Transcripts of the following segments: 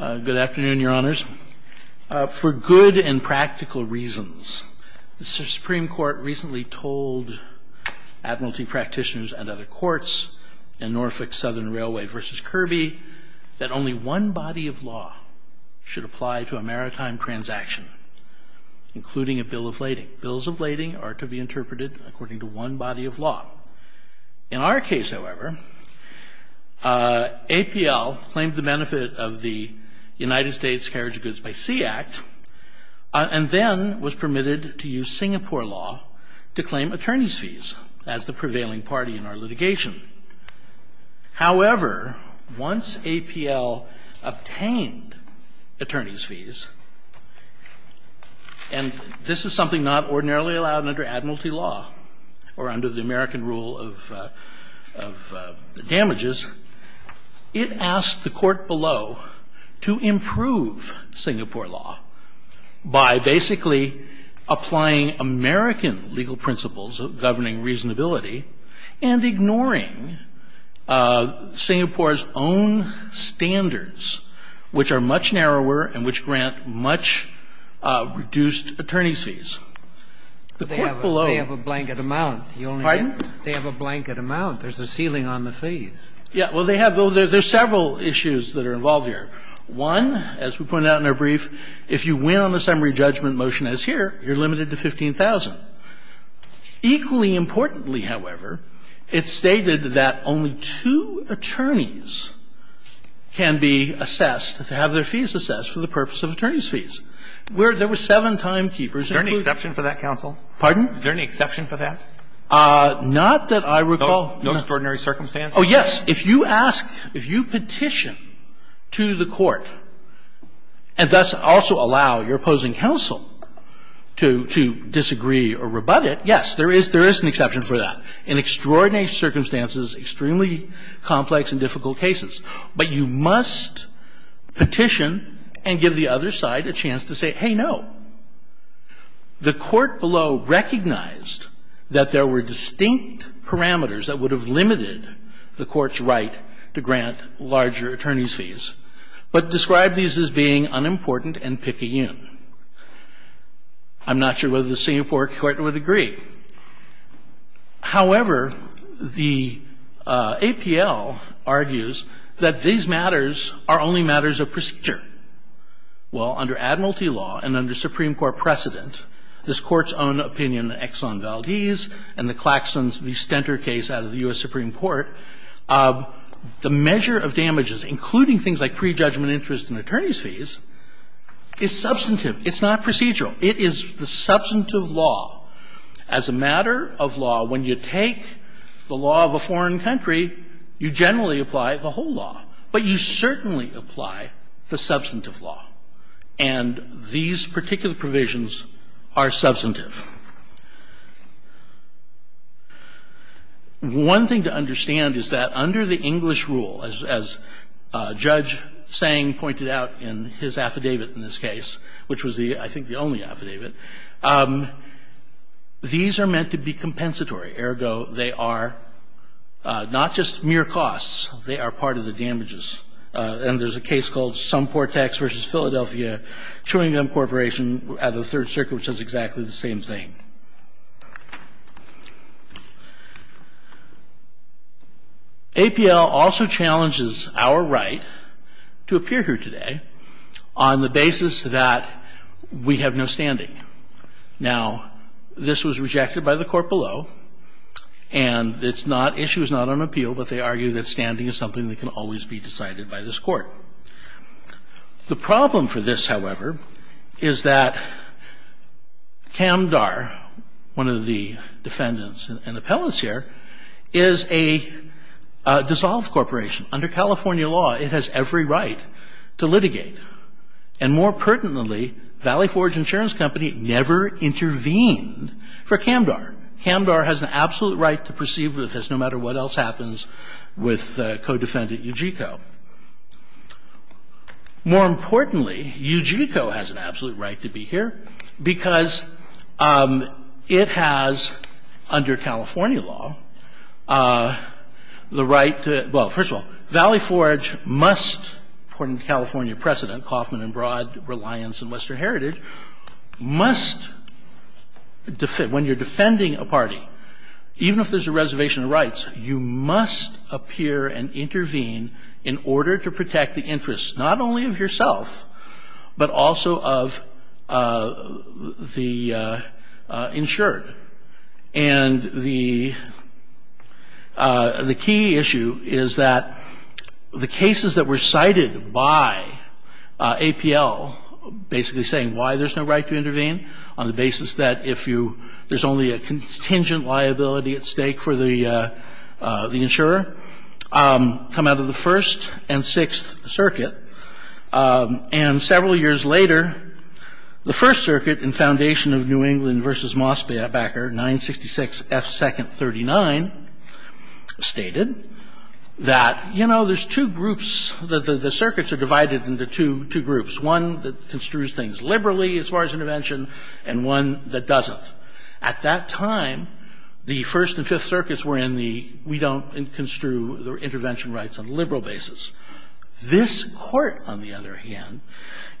Good afternoon, Your Honors. For good and practical reasons, the Supreme Court recently told Admiralty practitioners and other courts in Norfolk Southern Railway v. Kirby that only one body of law should apply to a maritime transaction, including a bill of lading. Bills of lading are to be interpreted according to one body of law. In our case, however, APL claimed the benefit of the United States Carriage of Goods by Sea Act and then was permitted to use Singapore law to claim attorney's fees as the prevailing party in our litigation. However, once APL obtained attorney's fees, and this is something not only the United States Carriage of Goods, but the United States Carriage of Goods itself, or under the American rule of damages, it asked the court below to improve Singapore law by basically applying American legal principles of governing reasonability and ignoring Singapore's own standards, which are much narrower and which grant much reduced attorney's fees. The court below ---- They have a blanket amount. Pardon? They have a blanket amount. There's a ceiling on the fees. Yeah. Well, they have. There's several issues that are involved here. One, as we pointed out in our brief, if you win on the summary judgment motion as here, you're limited to 15,000. Equally importantly, however, it's stated that only two attorneys can be assessed, to have their fees assessed for the purpose of attorney's fees. There were seven timekeepers. Is there any exception for that, counsel? Pardon? Is there any exception for that? Not that I recall. No extraordinary circumstances? Oh, yes. If you ask, if you petition to the court and thus also allow your opposing counsel to disagree or rebut it, yes, there is an exception for that. In extraordinary circumstances, extremely complex and difficult cases. But you must petition and give the other side a chance to say, hey, no. The court below recognized that there were distinct parameters that would have limited the court's right to grant larger attorney's fees, but described these as being unimportant and picayune. I'm not sure whether the Singapore Court would agree. However, the APL argues that these matters are only matters of procedure. Well, under admiralty law and under Supreme Court precedent, this Court's own opinion in Exxon Valdez and the Claxton v. Stenter case out of the U.S. Supreme Court, the measure of damages, including things like prejudgment interest and attorney's fees, is substantive. It's not procedural. It is the substantive law. As a matter of law, when you take the law of a foreign country, you generally apply the whole law. But you certainly apply the substantive law. And these particular provisions are substantive. One thing to understand is that under the English rule, as Judge Tsang pointed out in his affidavit in this case, which was the, I think, the only affidavit in the English affidavit, these are meant to be compensatory. Ergo, they are not just mere costs. They are part of the damages. And there's a case called Sumportex v. Philadelphia, Truingham Corporation at the Third Circuit, which does exactly the same thing. APL also challenges our right to appear here today on the basis that we have no standing Now, this was rejected by the court below, and it's not issue is not on appeal. But they argue that standing is something that can always be decided by this court. The problem for this, however, is that CamDar, one of the defendants and appellants here, is a dissolved corporation. Under California law, it has every right to litigate. And more pertinently, Valley Forge Insurance Company never intervened for CamDar. CamDar has an absolute right to proceed with this, no matter what else happens with co-defendant Ujico. More importantly, Ujico has an absolute right to be here because it has, under California law, the right to – well, first of all, Valley Forge must, according to California precedent, Kaufman and Broad, Reliance, and Western Heritage, must – when you're defending a party, even if there's a reservation of rights, you must appear and intervene in order to protect the interests not only of yourself, but also of the insured. And the key issue is that the cases that were cited by APL basically saying why there's no right to intervene on the basis that if you – there's only a contingent liability at stake for the insurer come out of the First and Sixth Circuit. And several years later, the First Circuit, in foundation of New England v. Mosby, Bakker, 966 F. 2nd 39, stated that, you know, there's two groups, the circuits are divided into two groups, one that construes things liberally as far as intervention and one that doesn't. At that time, the First and Fifth Circuits were in the we don't construe the intervention rights on a liberal basis. This Court, on the other hand,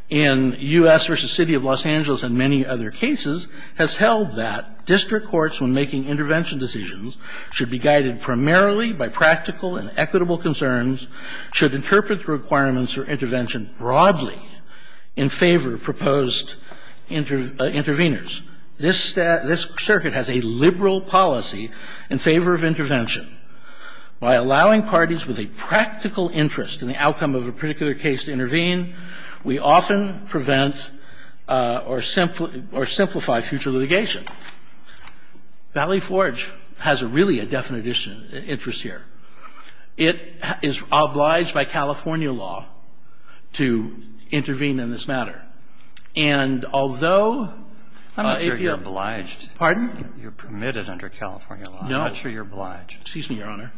in U.S. v. City of Los Angeles and many other cases, has held that district courts, when making intervention decisions, should be guided primarily by practical and equitable concerns, should interpret the requirements for intervention broadly in favor of proposed interveners. This circuit has a liberal policy in favor of intervention. By allowing parties with a practical interest in the outcome of a particular case to intervene, we often prevent or simplify future litigation. Valley Forge has really a definite interest here. It is obliged by California law to intervene in this matter. And although APL. Robertson, I'm not sure you're obliged. Pardon? You're permitted under California law. I'm not sure you're obliged. Excuse me, Your Honor.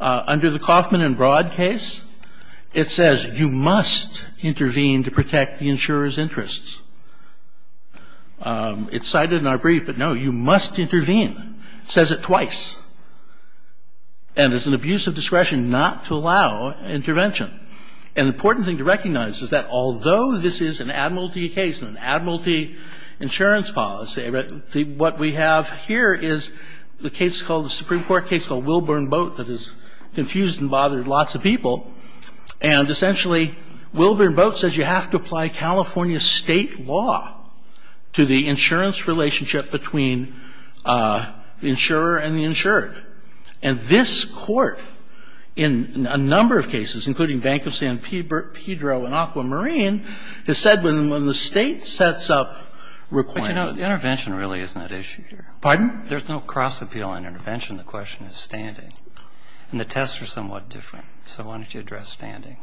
Under the Kaufman and Broad case, it says you must intervene to protect the insurer's interests. It's cited in our brief, but no, you must intervene. It says it twice. And it's an abuse of discretion not to allow intervention. An important thing to recognize is that although this is an admiralty case and an admiralty insurance policy, what we have here is the case called, the Supreme Court case called Wilburn Boat that has confused and bothered lots of people. And essentially, Wilburn Boat says you have to apply California State law to the insurance relationship between the insurer and the insured. And this Court in a number of cases, including Bank of San Pedro and Aquamarine, has said when the State sets up requirements. But, you know, the intervention really isn't at issue here. Pardon? There's no cross-appeal intervention. The question is standing. And the tests are somewhat different. So why don't you address standing?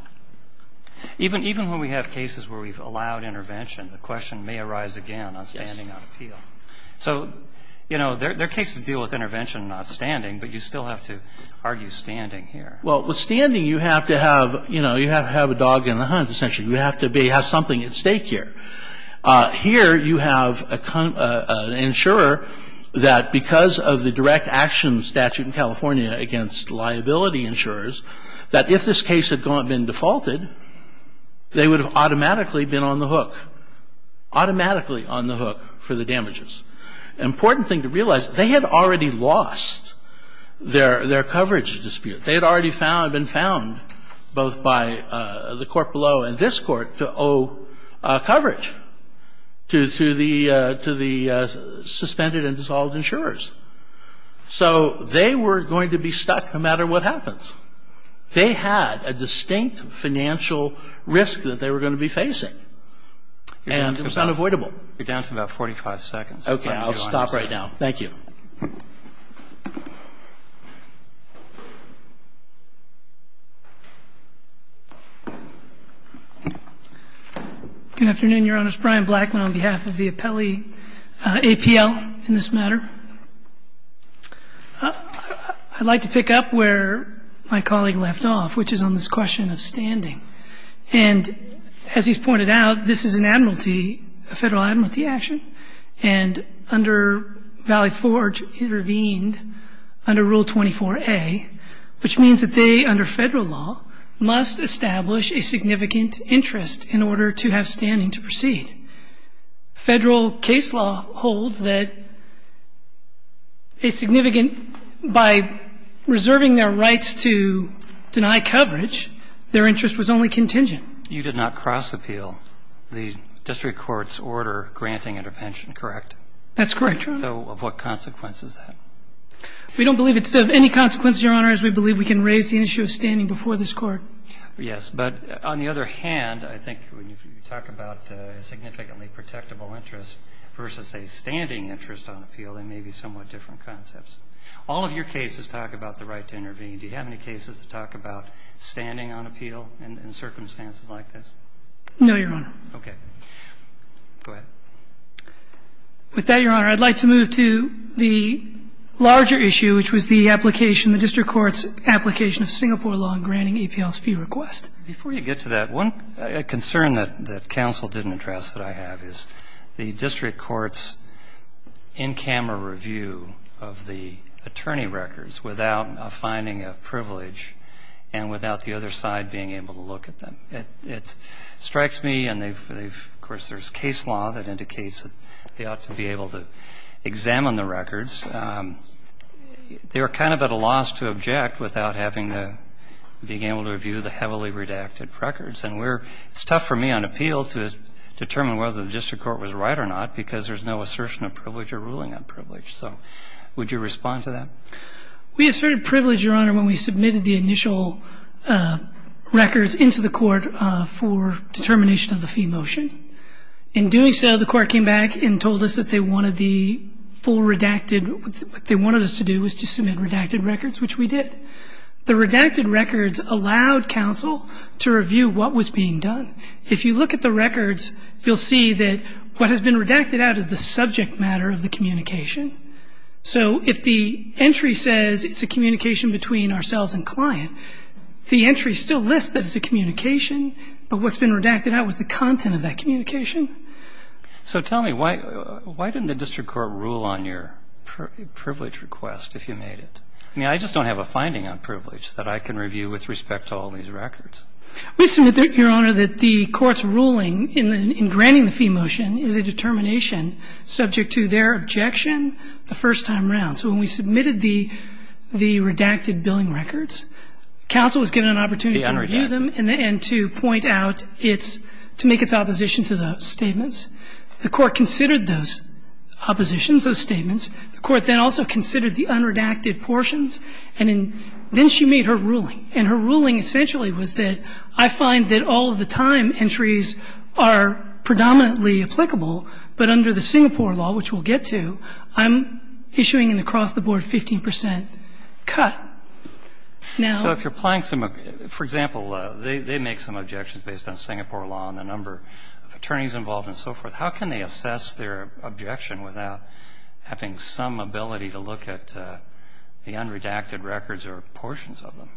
Even when we have cases where we've allowed intervention, the question may arise again on standing on appeal. So, you know, there are cases that deal with intervention, not standing, but you still have to argue standing here. Well, with standing, you have to have, you know, you have to have a dog and a hunt, essentially. You have to have something at stake here. Here you have an insurer that, because of the direct action statute in California against liability insurers, that if this case had been defaulted, they would have automatically been on the hook, automatically on the hook for the damages. An important thing to realize, they had already lost their coverage dispute. They had already found, been found, both by the court below and this Court, to owe coverage to the suspended and dissolved insurers. So they were going to be stuck no matter what happens. They had a distinct financial risk that they were going to be facing, and it was unavoidable. You're down to about 45 seconds. Okay. I'll stop right now. Thank you. Good afternoon, Your Honors. Brian Blackman on behalf of the appellee, APL, in this matter. I'd like to pick up where my colleague left off, which is on this question of standing. And as he's pointed out, this is an admiralty, a Federal admiralty action. And under Valley Forge intervened under Rule 24a, which means that they, under Federal law, must establish a significant interest in order to have standing to proceed. Federal case law holds that a significant by reserving their rights to deny coverage, their interest was only contingent. You did not cross-appeal the district court's order granting intervention. Correct? That's correct, Your Honor. So what consequence is that? We don't believe it's of any consequence, Your Honor, as we believe we can raise the issue of standing before this Court. Yes. But on the other hand, I think when you talk about a significantly protectable interest versus a standing interest on appeal, they may be somewhat different concepts. All of your cases talk about the right to intervene. Do you have any cases that talk about standing on appeal in circumstances like this? No, Your Honor. Okay. Go ahead. With that, Your Honor, I'd like to move to the larger issue, which was the application of the district court's application of Singapore law in granting APL's fee request. Before you get to that, one concern that counsel didn't address that I have is the district court's in-camera review of the attorney records without a finding of privilege and without the other side being able to look at them. It strikes me, and of course, there's case law that indicates that they ought to be able to examine the records. They were kind of at a loss to object without having to be able to review the heavily redacted records. And it's tough for me on appeal to determine whether the district court was right or not, because there's no assertion of privilege or ruling on privilege. So would you respond to that? We asserted privilege, Your Honor, when we submitted the initial records into the district court for determination of the fee motion. In doing so, the court came back and told us that they wanted the full redacted what they wanted us to do was to submit redacted records, which we did. The redacted records allowed counsel to review what was being done. If you look at the records, you'll see that what has been redacted out is the subject matter of the communication. So if the entry says it's a communication between ourselves and client, the entry still lists that it's a communication, but what's been redacted out was the content of that communication. So tell me, why didn't the district court rule on your privilege request if you made it? I mean, I just don't have a finding on privilege that I can review with respect to all these records. We submit, Your Honor, that the court's ruling in granting the fee motion is a determination subject to their objection the first time around. So when we submitted the redacted billing records, counsel was given an opportunity to review them and to point out its, to make its opposition to those statements. The court considered those oppositions, those statements. The court then also considered the unredacted portions, and then she made her ruling. And her ruling essentially was that I find that all of the time entries are predominantly applicable, but under the Singapore law, which we'll get to, I'm issuing an across-the-board 15 percent cut. Now ---- So if you're applying some of the ---- for example, they make some objections based on Singapore law and the number of attorneys involved and so forth. How can they assess their objection without having some ability to look at the unredacted records or portions of them?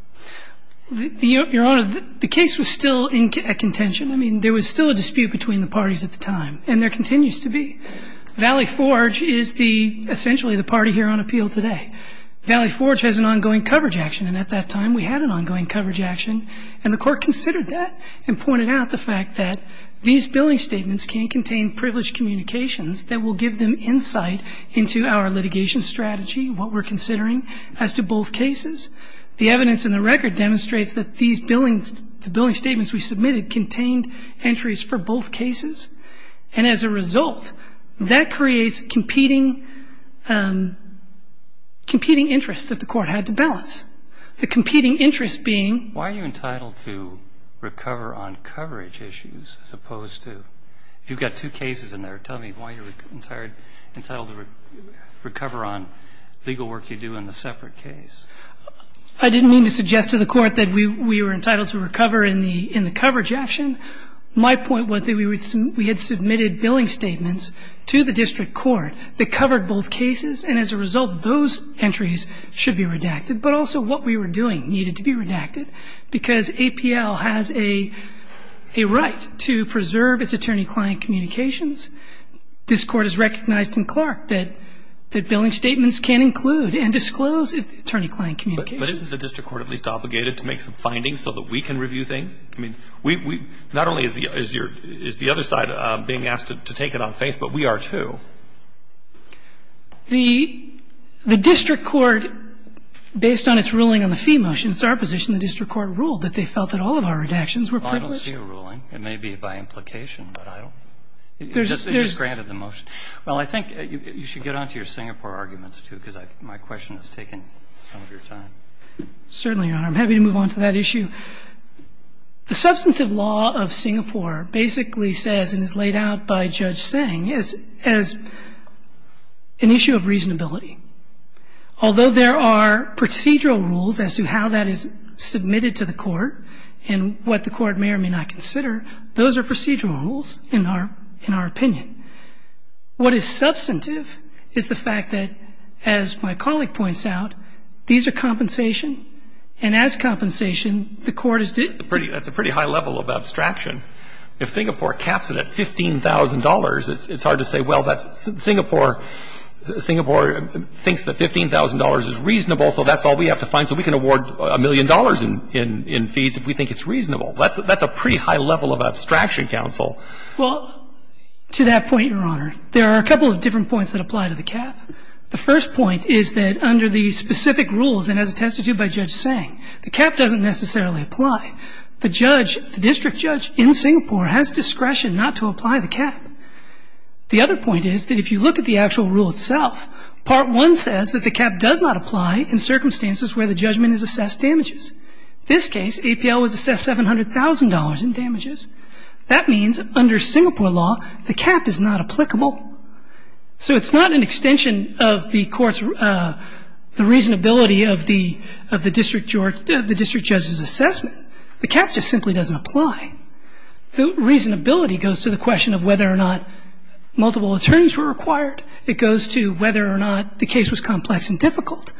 Your Honor, the case was still in contention. I mean, there was still a dispute between the parties at the time, and there continues to be. Valley Forge is the, essentially the party here on appeal today. Valley Forge has an ongoing coverage action, and at that time we had an ongoing coverage action. And the court considered that and pointed out the fact that these billing statements can contain privileged communications that will give them insight into our litigation strategy, what we're considering as to both cases. The evidence in the record demonstrates that these billing, the billing statements we submitted contained entries for both cases. And as a result, that creates competing interests that the court had to balance. The competing interest being ---- Why are you entitled to recover on coverage issues as opposed to ---- you've got two cases in there. Tell me why you're entitled to recover on legal work you do in the separate case. I didn't mean to suggest to the court that we were entitled to recover in the coverage action. My point was that we had submitted billing statements to the district court that covered both cases, and as a result, those entries should be redacted. But also, what we were doing needed to be redacted, because APL has a right to preserve its attorney-client communications. This Court has recognized in Clark that billing statements can include and disclose attorney-client communications. But isn't the district court at least obligated to make some findings so that we can review things? I mean, we ---- not only is the other side being asked to take it on faith, but we are, too. The district court, based on its ruling on the fee motion, it's our position the district court ruled that they felt that all of our redactions were privileged. Well, I don't see a ruling. It may be by implication, but I don't ---- There's ---- It just granted the motion. Well, I think you should get on to your Singapore arguments, too, because my question has taken some of your time. Certainly, Your Honor. I'm happy to move on to that issue. The substantive law of Singapore basically says, and is laid out by Judge Seng, is an issue of reasonability. Although there are procedural rules as to how that is submitted to the Court and what the Court may or may not consider, those are procedural rules in our opinion. What is substantive is the fact that, as my colleague points out, these are compensation, and as compensation, the Court is ---- That's a pretty high level of abstraction. If Singapore caps it at $15,000, it's hard to say, well, that's ---- Singapore thinks that $15,000 is reasonable, so that's all we have to find, so we can award a million dollars in fees if we think it's reasonable. That's a pretty high level of abstraction, counsel. Well, to that point, Your Honor, there are a couple of different points that apply to the cap. The first point is that under the specific rules and as attested to by Judge Seng, the cap doesn't necessarily apply. The judge, the district judge in Singapore has discretion not to apply the cap. The other point is that if you look at the actual rule itself, part one says that the cap does not apply in circumstances where the judgment is assessed damages. This case, APL was assessed $700,000 in damages. That means under Singapore law, the cap is not applicable. So it's not an extension of the Court's, the reasonability of the district judge's assessment. The cap just simply doesn't apply. The reasonability goes to the question of whether or not multiple attorneys were required. It goes to whether or not the case was complex and difficult.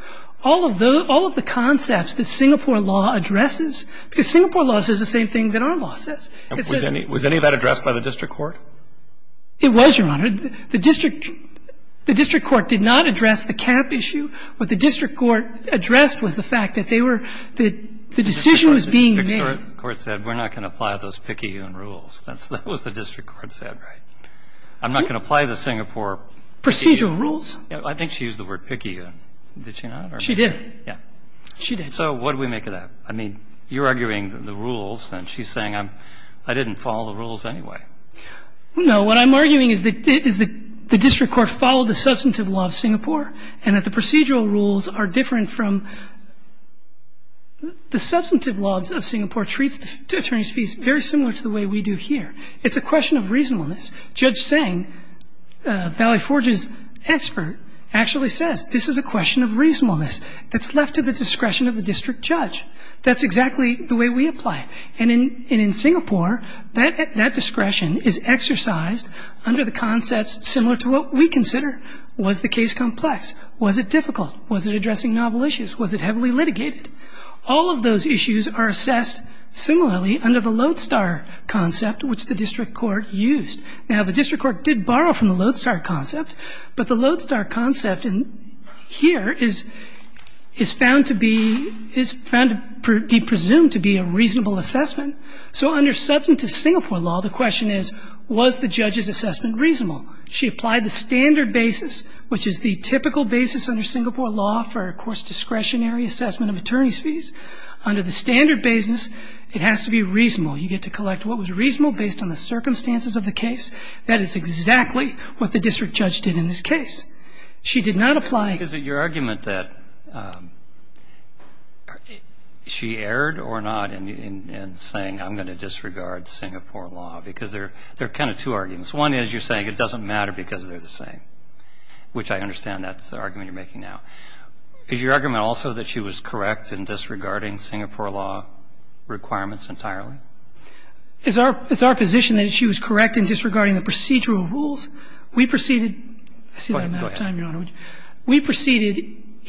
All of the concepts that Singapore law addresses, because Singapore law says the same thing that our law says, it says the same thing that our law says. And was any of that addressed by the district court? It was, Your Honor. The district court did not address the cap issue. What the district court addressed was the fact that they were, the decision was being made. The district court said we're not going to apply those PICU rules. That's what the district court said, right? I'm not going to apply the Singapore PICU rules. Procedural rules. I think she used the word PICU. Did she not? She did. Yeah. She did. And so what do we make of that? I mean, you're arguing the rules, and she's saying I'm, I didn't follow the rules anyway. No. What I'm arguing is that the district court followed the substantive law of Singapore and that the procedural rules are different from the substantive laws of Singapore treats the attorneys' fees very similar to the way we do here. It's a question of reasonableness. Judge Tseng, Valley Forge's expert, actually says this is a question of reasonableness that's left to the discretion of the district judge. That's exactly the way we apply it. And in Singapore, that discretion is exercised under the concepts similar to what we consider. Was the case complex? Was it difficult? Was it addressing novel issues? Was it heavily litigated? All of those issues are assessed similarly under the Lodestar concept, which the district court used. Now, the district court did borrow from the Lodestar concept, but the Lodestar concept here is found to be presumed to be a reasonable assessment. So under substantive Singapore law, the question is, was the judge's assessment reasonable? She applied the standard basis, which is the typical basis under Singapore law for, of course, discretionary assessment of attorneys' fees. Under the standard basis, it has to be reasonable. You get to collect what was reasonable based on the circumstances of the case. That is exactly what the district judge did in this case. She did not apply the standard basis. Roberts. Is it your argument that she erred or not in saying, I'm going to disregard Singapore law, because there are kind of two arguments. One is you're saying it doesn't matter because they're the same, which I understand that's the argument you're making now. Is your argument also that she was correct in disregarding Singapore law requirements entirely? It's our position that she was correct in disregarding the procedural rules. We proceeded to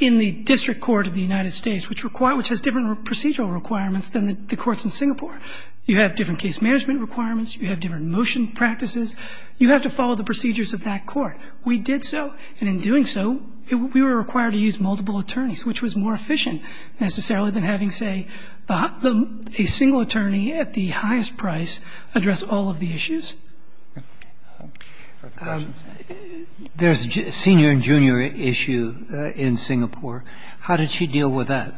the District Court of the United States, which has different procedural requirements than the courts in Singapore. You have different case management requirements. You have different motion practices. You have to follow the procedures of that court. We did so, and in doing so, we were required to use multiple attorneys, which was more efficient, necessarily, than having, say, a single attorney at the highest price address all of the issues. There's a senior and junior issue in Singapore. How did she deal with that?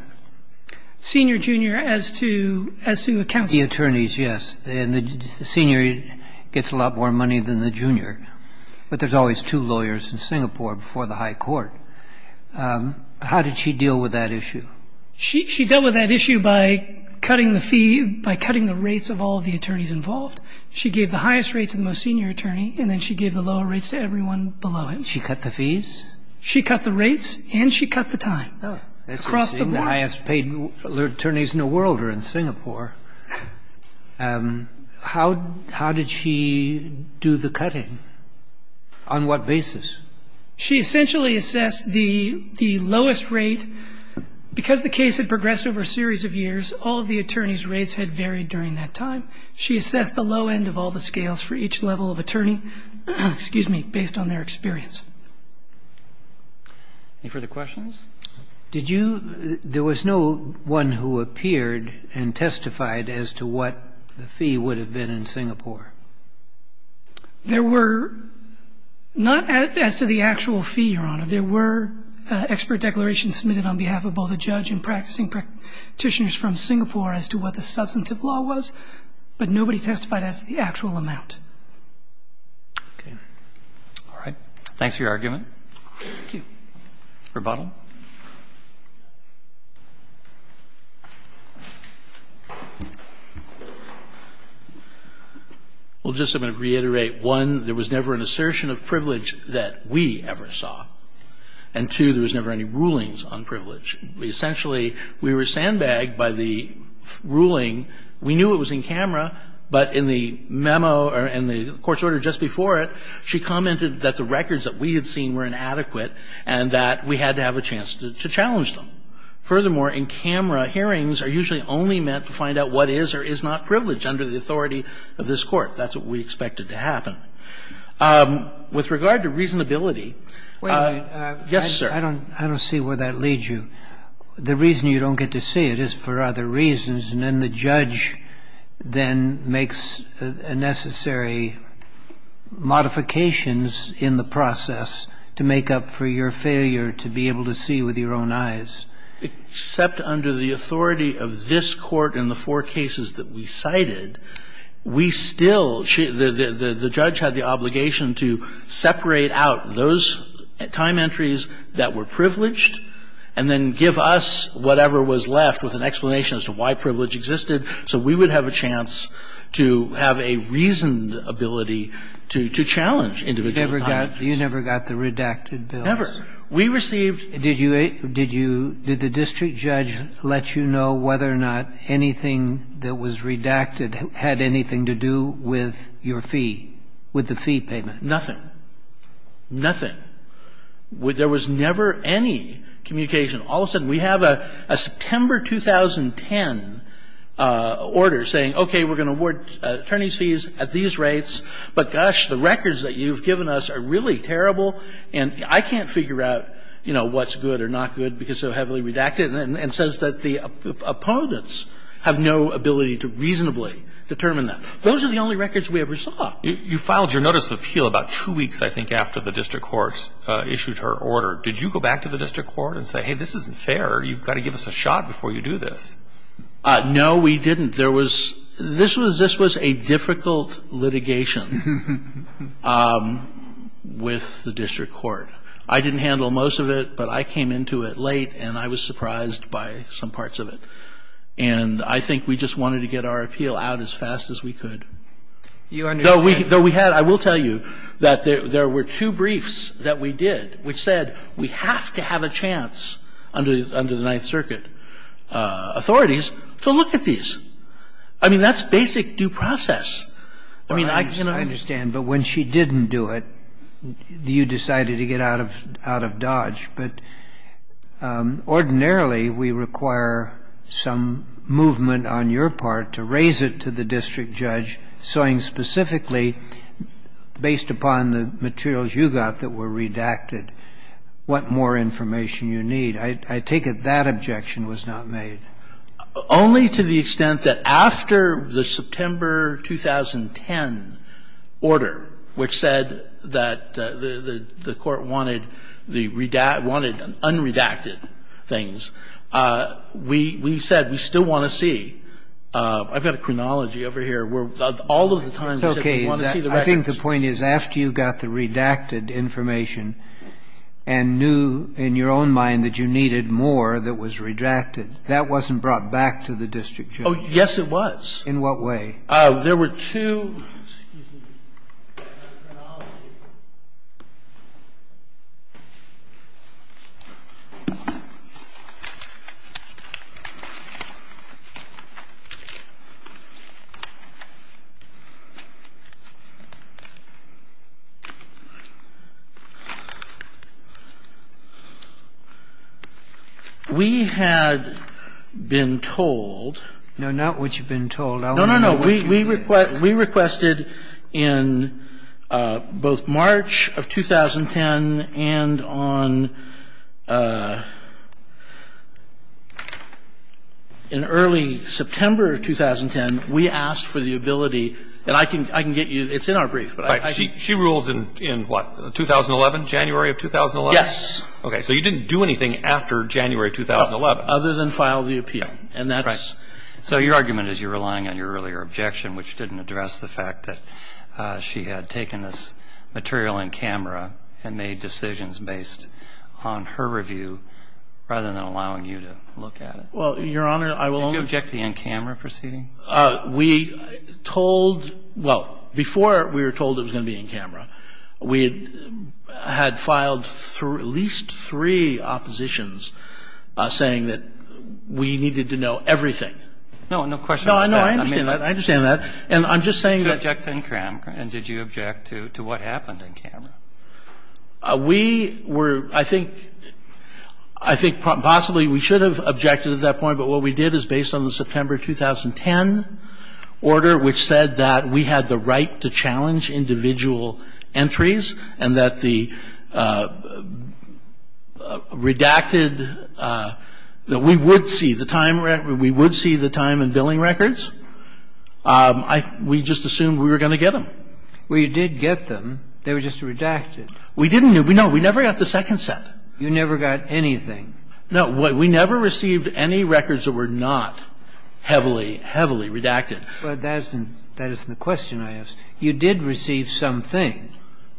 Senior, junior, as to the counsel. The attorneys, yes. And the senior gets a lot more money than the junior. But there's always two lawyers in Singapore before the high court. How did she deal with that issue? She dealt with that issue by cutting the fee, by cutting the rates of all of the attorneys involved. She gave the highest rate to the most senior attorney, and then she gave the lower rates to everyone below it. She cut the fees? She cut the rates and she cut the time. Oh. That's the highest paid attorneys in the world are in Singapore. How did she do the cutting? On what basis? She essentially assessed the lowest rate. Because the case had progressed over a series of years, all of the attorneys' rates had varied during that time. She assessed the low end of all the scales for each level of attorney, excuse me, based on their experience. Any further questions? Did you – there was no one who appeared and testified as to what the fee would have been in Singapore? There were not as to the actual fee, Your Honor. There were expert declarations submitted on behalf of both the judge and practicing practitioners from Singapore as to what the substantive law was, but nobody testified as to the actual amount. Okay. All right. Thanks for your argument. Thank you. Rebuttal? Well, just I'm going to reiterate, one, there was never an assertion of privilege that we ever saw. And, two, there was never any rulings on privilege. Essentially, we were sandbagged by the ruling. We knew it was in camera, but in the memo or in the court's order just before it, she commented that the records that we had seen were inadequate and that we had to have a jury. And so we had a chance to challenge them. Furthermore, in camera, hearings are usually only meant to find out what is or is not privilege under the authority of this Court. That's what we expected to happen. With regard to reasonability, yes, sir. I don't see where that leads you. The reason you don't get to see it is for other reasons, and then the judge then makes necessary modifications in the process to make up for your failure to be able to see with your own eyes. Except under the authority of this Court in the four cases that we cited, we still the judge had the obligation to separate out those time entries that were privileged and then give us whatever was left with an explanation as to why privilege existed So we would have a chance to have a reasoned ability to challenge individual time entries. You never got the redacted bills? Never. We received... Did the district judge let you know whether or not anything that was redacted had anything to do with your fee, with the fee payment? Nothing. Nothing. There was never any communication. All of a sudden, we have a September 2010 order saying, okay, we're going to award attorney's fees at these rates, but gosh, the records that you've given us are really terrible and I can't figure out, you know, what's good or not good because they're heavily redacted. And it says that the opponents have no ability to reasonably determine that. Those are the only records we ever saw. You filed your notice of appeal about two weeks, I think, after the district court issued her order. Did you go back to the district court and say, hey, this isn't fair, you've got to give us a shot before you do this? No, we didn't. There was... This was a difficult litigation with the district court. I didn't handle most of it, but I came into it late and I was surprised by some parts of it. And I think we just wanted to get our appeal out as fast as we could. Though we had... I think we had a lot of evidence that we did which said we have to have a chance under the Ninth Circuit authorities to look at these. I mean, that's basic due process. I mean, I cannot... I understand. But when she didn't do it, you decided to get out of Dodge. But ordinarily, we require some movement on your part to raise it to the district judge, saying specifically, based upon the materials you got that were redacted, what more information you need. I take it that objection was not made. Only to the extent that after the September 2010 order, which said that the court wanted the redacted, wanted unredacted things, we said we still want to see. I've got a chronology over here where all of the time we said we want to see the records. I think the point is after you got the redacted information and knew in your own mind that you needed more that was redacted, that wasn't brought back to the district judge. Oh, yes, it was. In what way? There were two... We had been told... No, not what you've been told. No, no, no. We requested in both March of 2010 and on an early September of 2010, we asked for the ability, and I can get you, it's in our brief. Right. She rules in what, 2011, January of 2011? Yes. Okay. So you didn't do anything after January 2011? Other than file the appeal. And that's... Right. So your argument is you're relying on your earlier objection, which didn't address the fact that she had taken this material in camera and made decisions based on her review rather than allowing you to look at it. Well, Your Honor, I will only... Did you object to the in-camera proceeding? We told... Well, before we were told it was going to be in camera, we had filed at least three oppositions saying that we needed to know everything. No, no question about that. No, I know. I understand that. I understand that. And I'm just saying that... You objected in camera, and did you object to what happened in camera? We were, I think, I think possibly we should have objected at that point, but what we did see was that we had received individual entries and that the redacted, that we would see the time and billing records. We just assumed we were going to get them. Well, you did get them. They were just redacted. We didn't. No, we never got the second set. You never got anything. No, we never received any records that were not heavily, heavily redacted. But that isn't the question, I ask. You did receive something.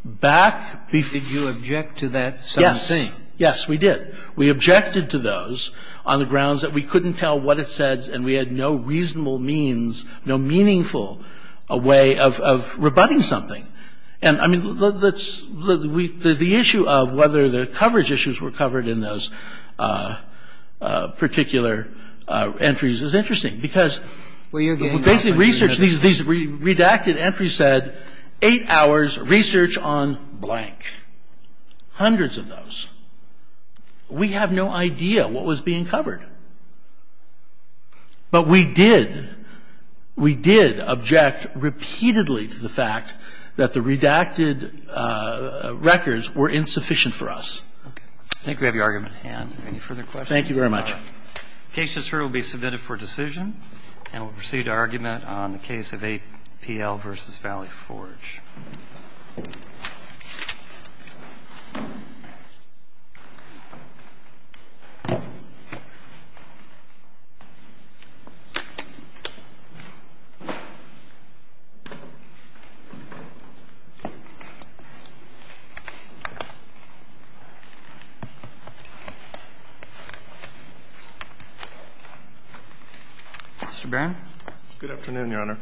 Back before... Did you object to that something? Yes. Yes, we did. We objected to those on the grounds that we couldn't tell what it said and we had no reasonable means, no meaningful way of rebutting something. And, I mean, let's, the issue of whether the coverage issues were covered in those particular entries is interesting because... Well, you're getting... Basically, research, these redacted entries said eight hours research on blank, hundreds of those. We have no idea what was being covered. But we did. We did object repeatedly to the fact that the redacted records were insufficient for us. Okay. I think we have your argument at hand. Any further questions? Thank you very much. The case just heard will be submitted for decision and we'll proceed to argument on the case of APL v. Valley Forge. Mr. Barron? Good afternoon, Your Honor. Good afternoon, Your Honor.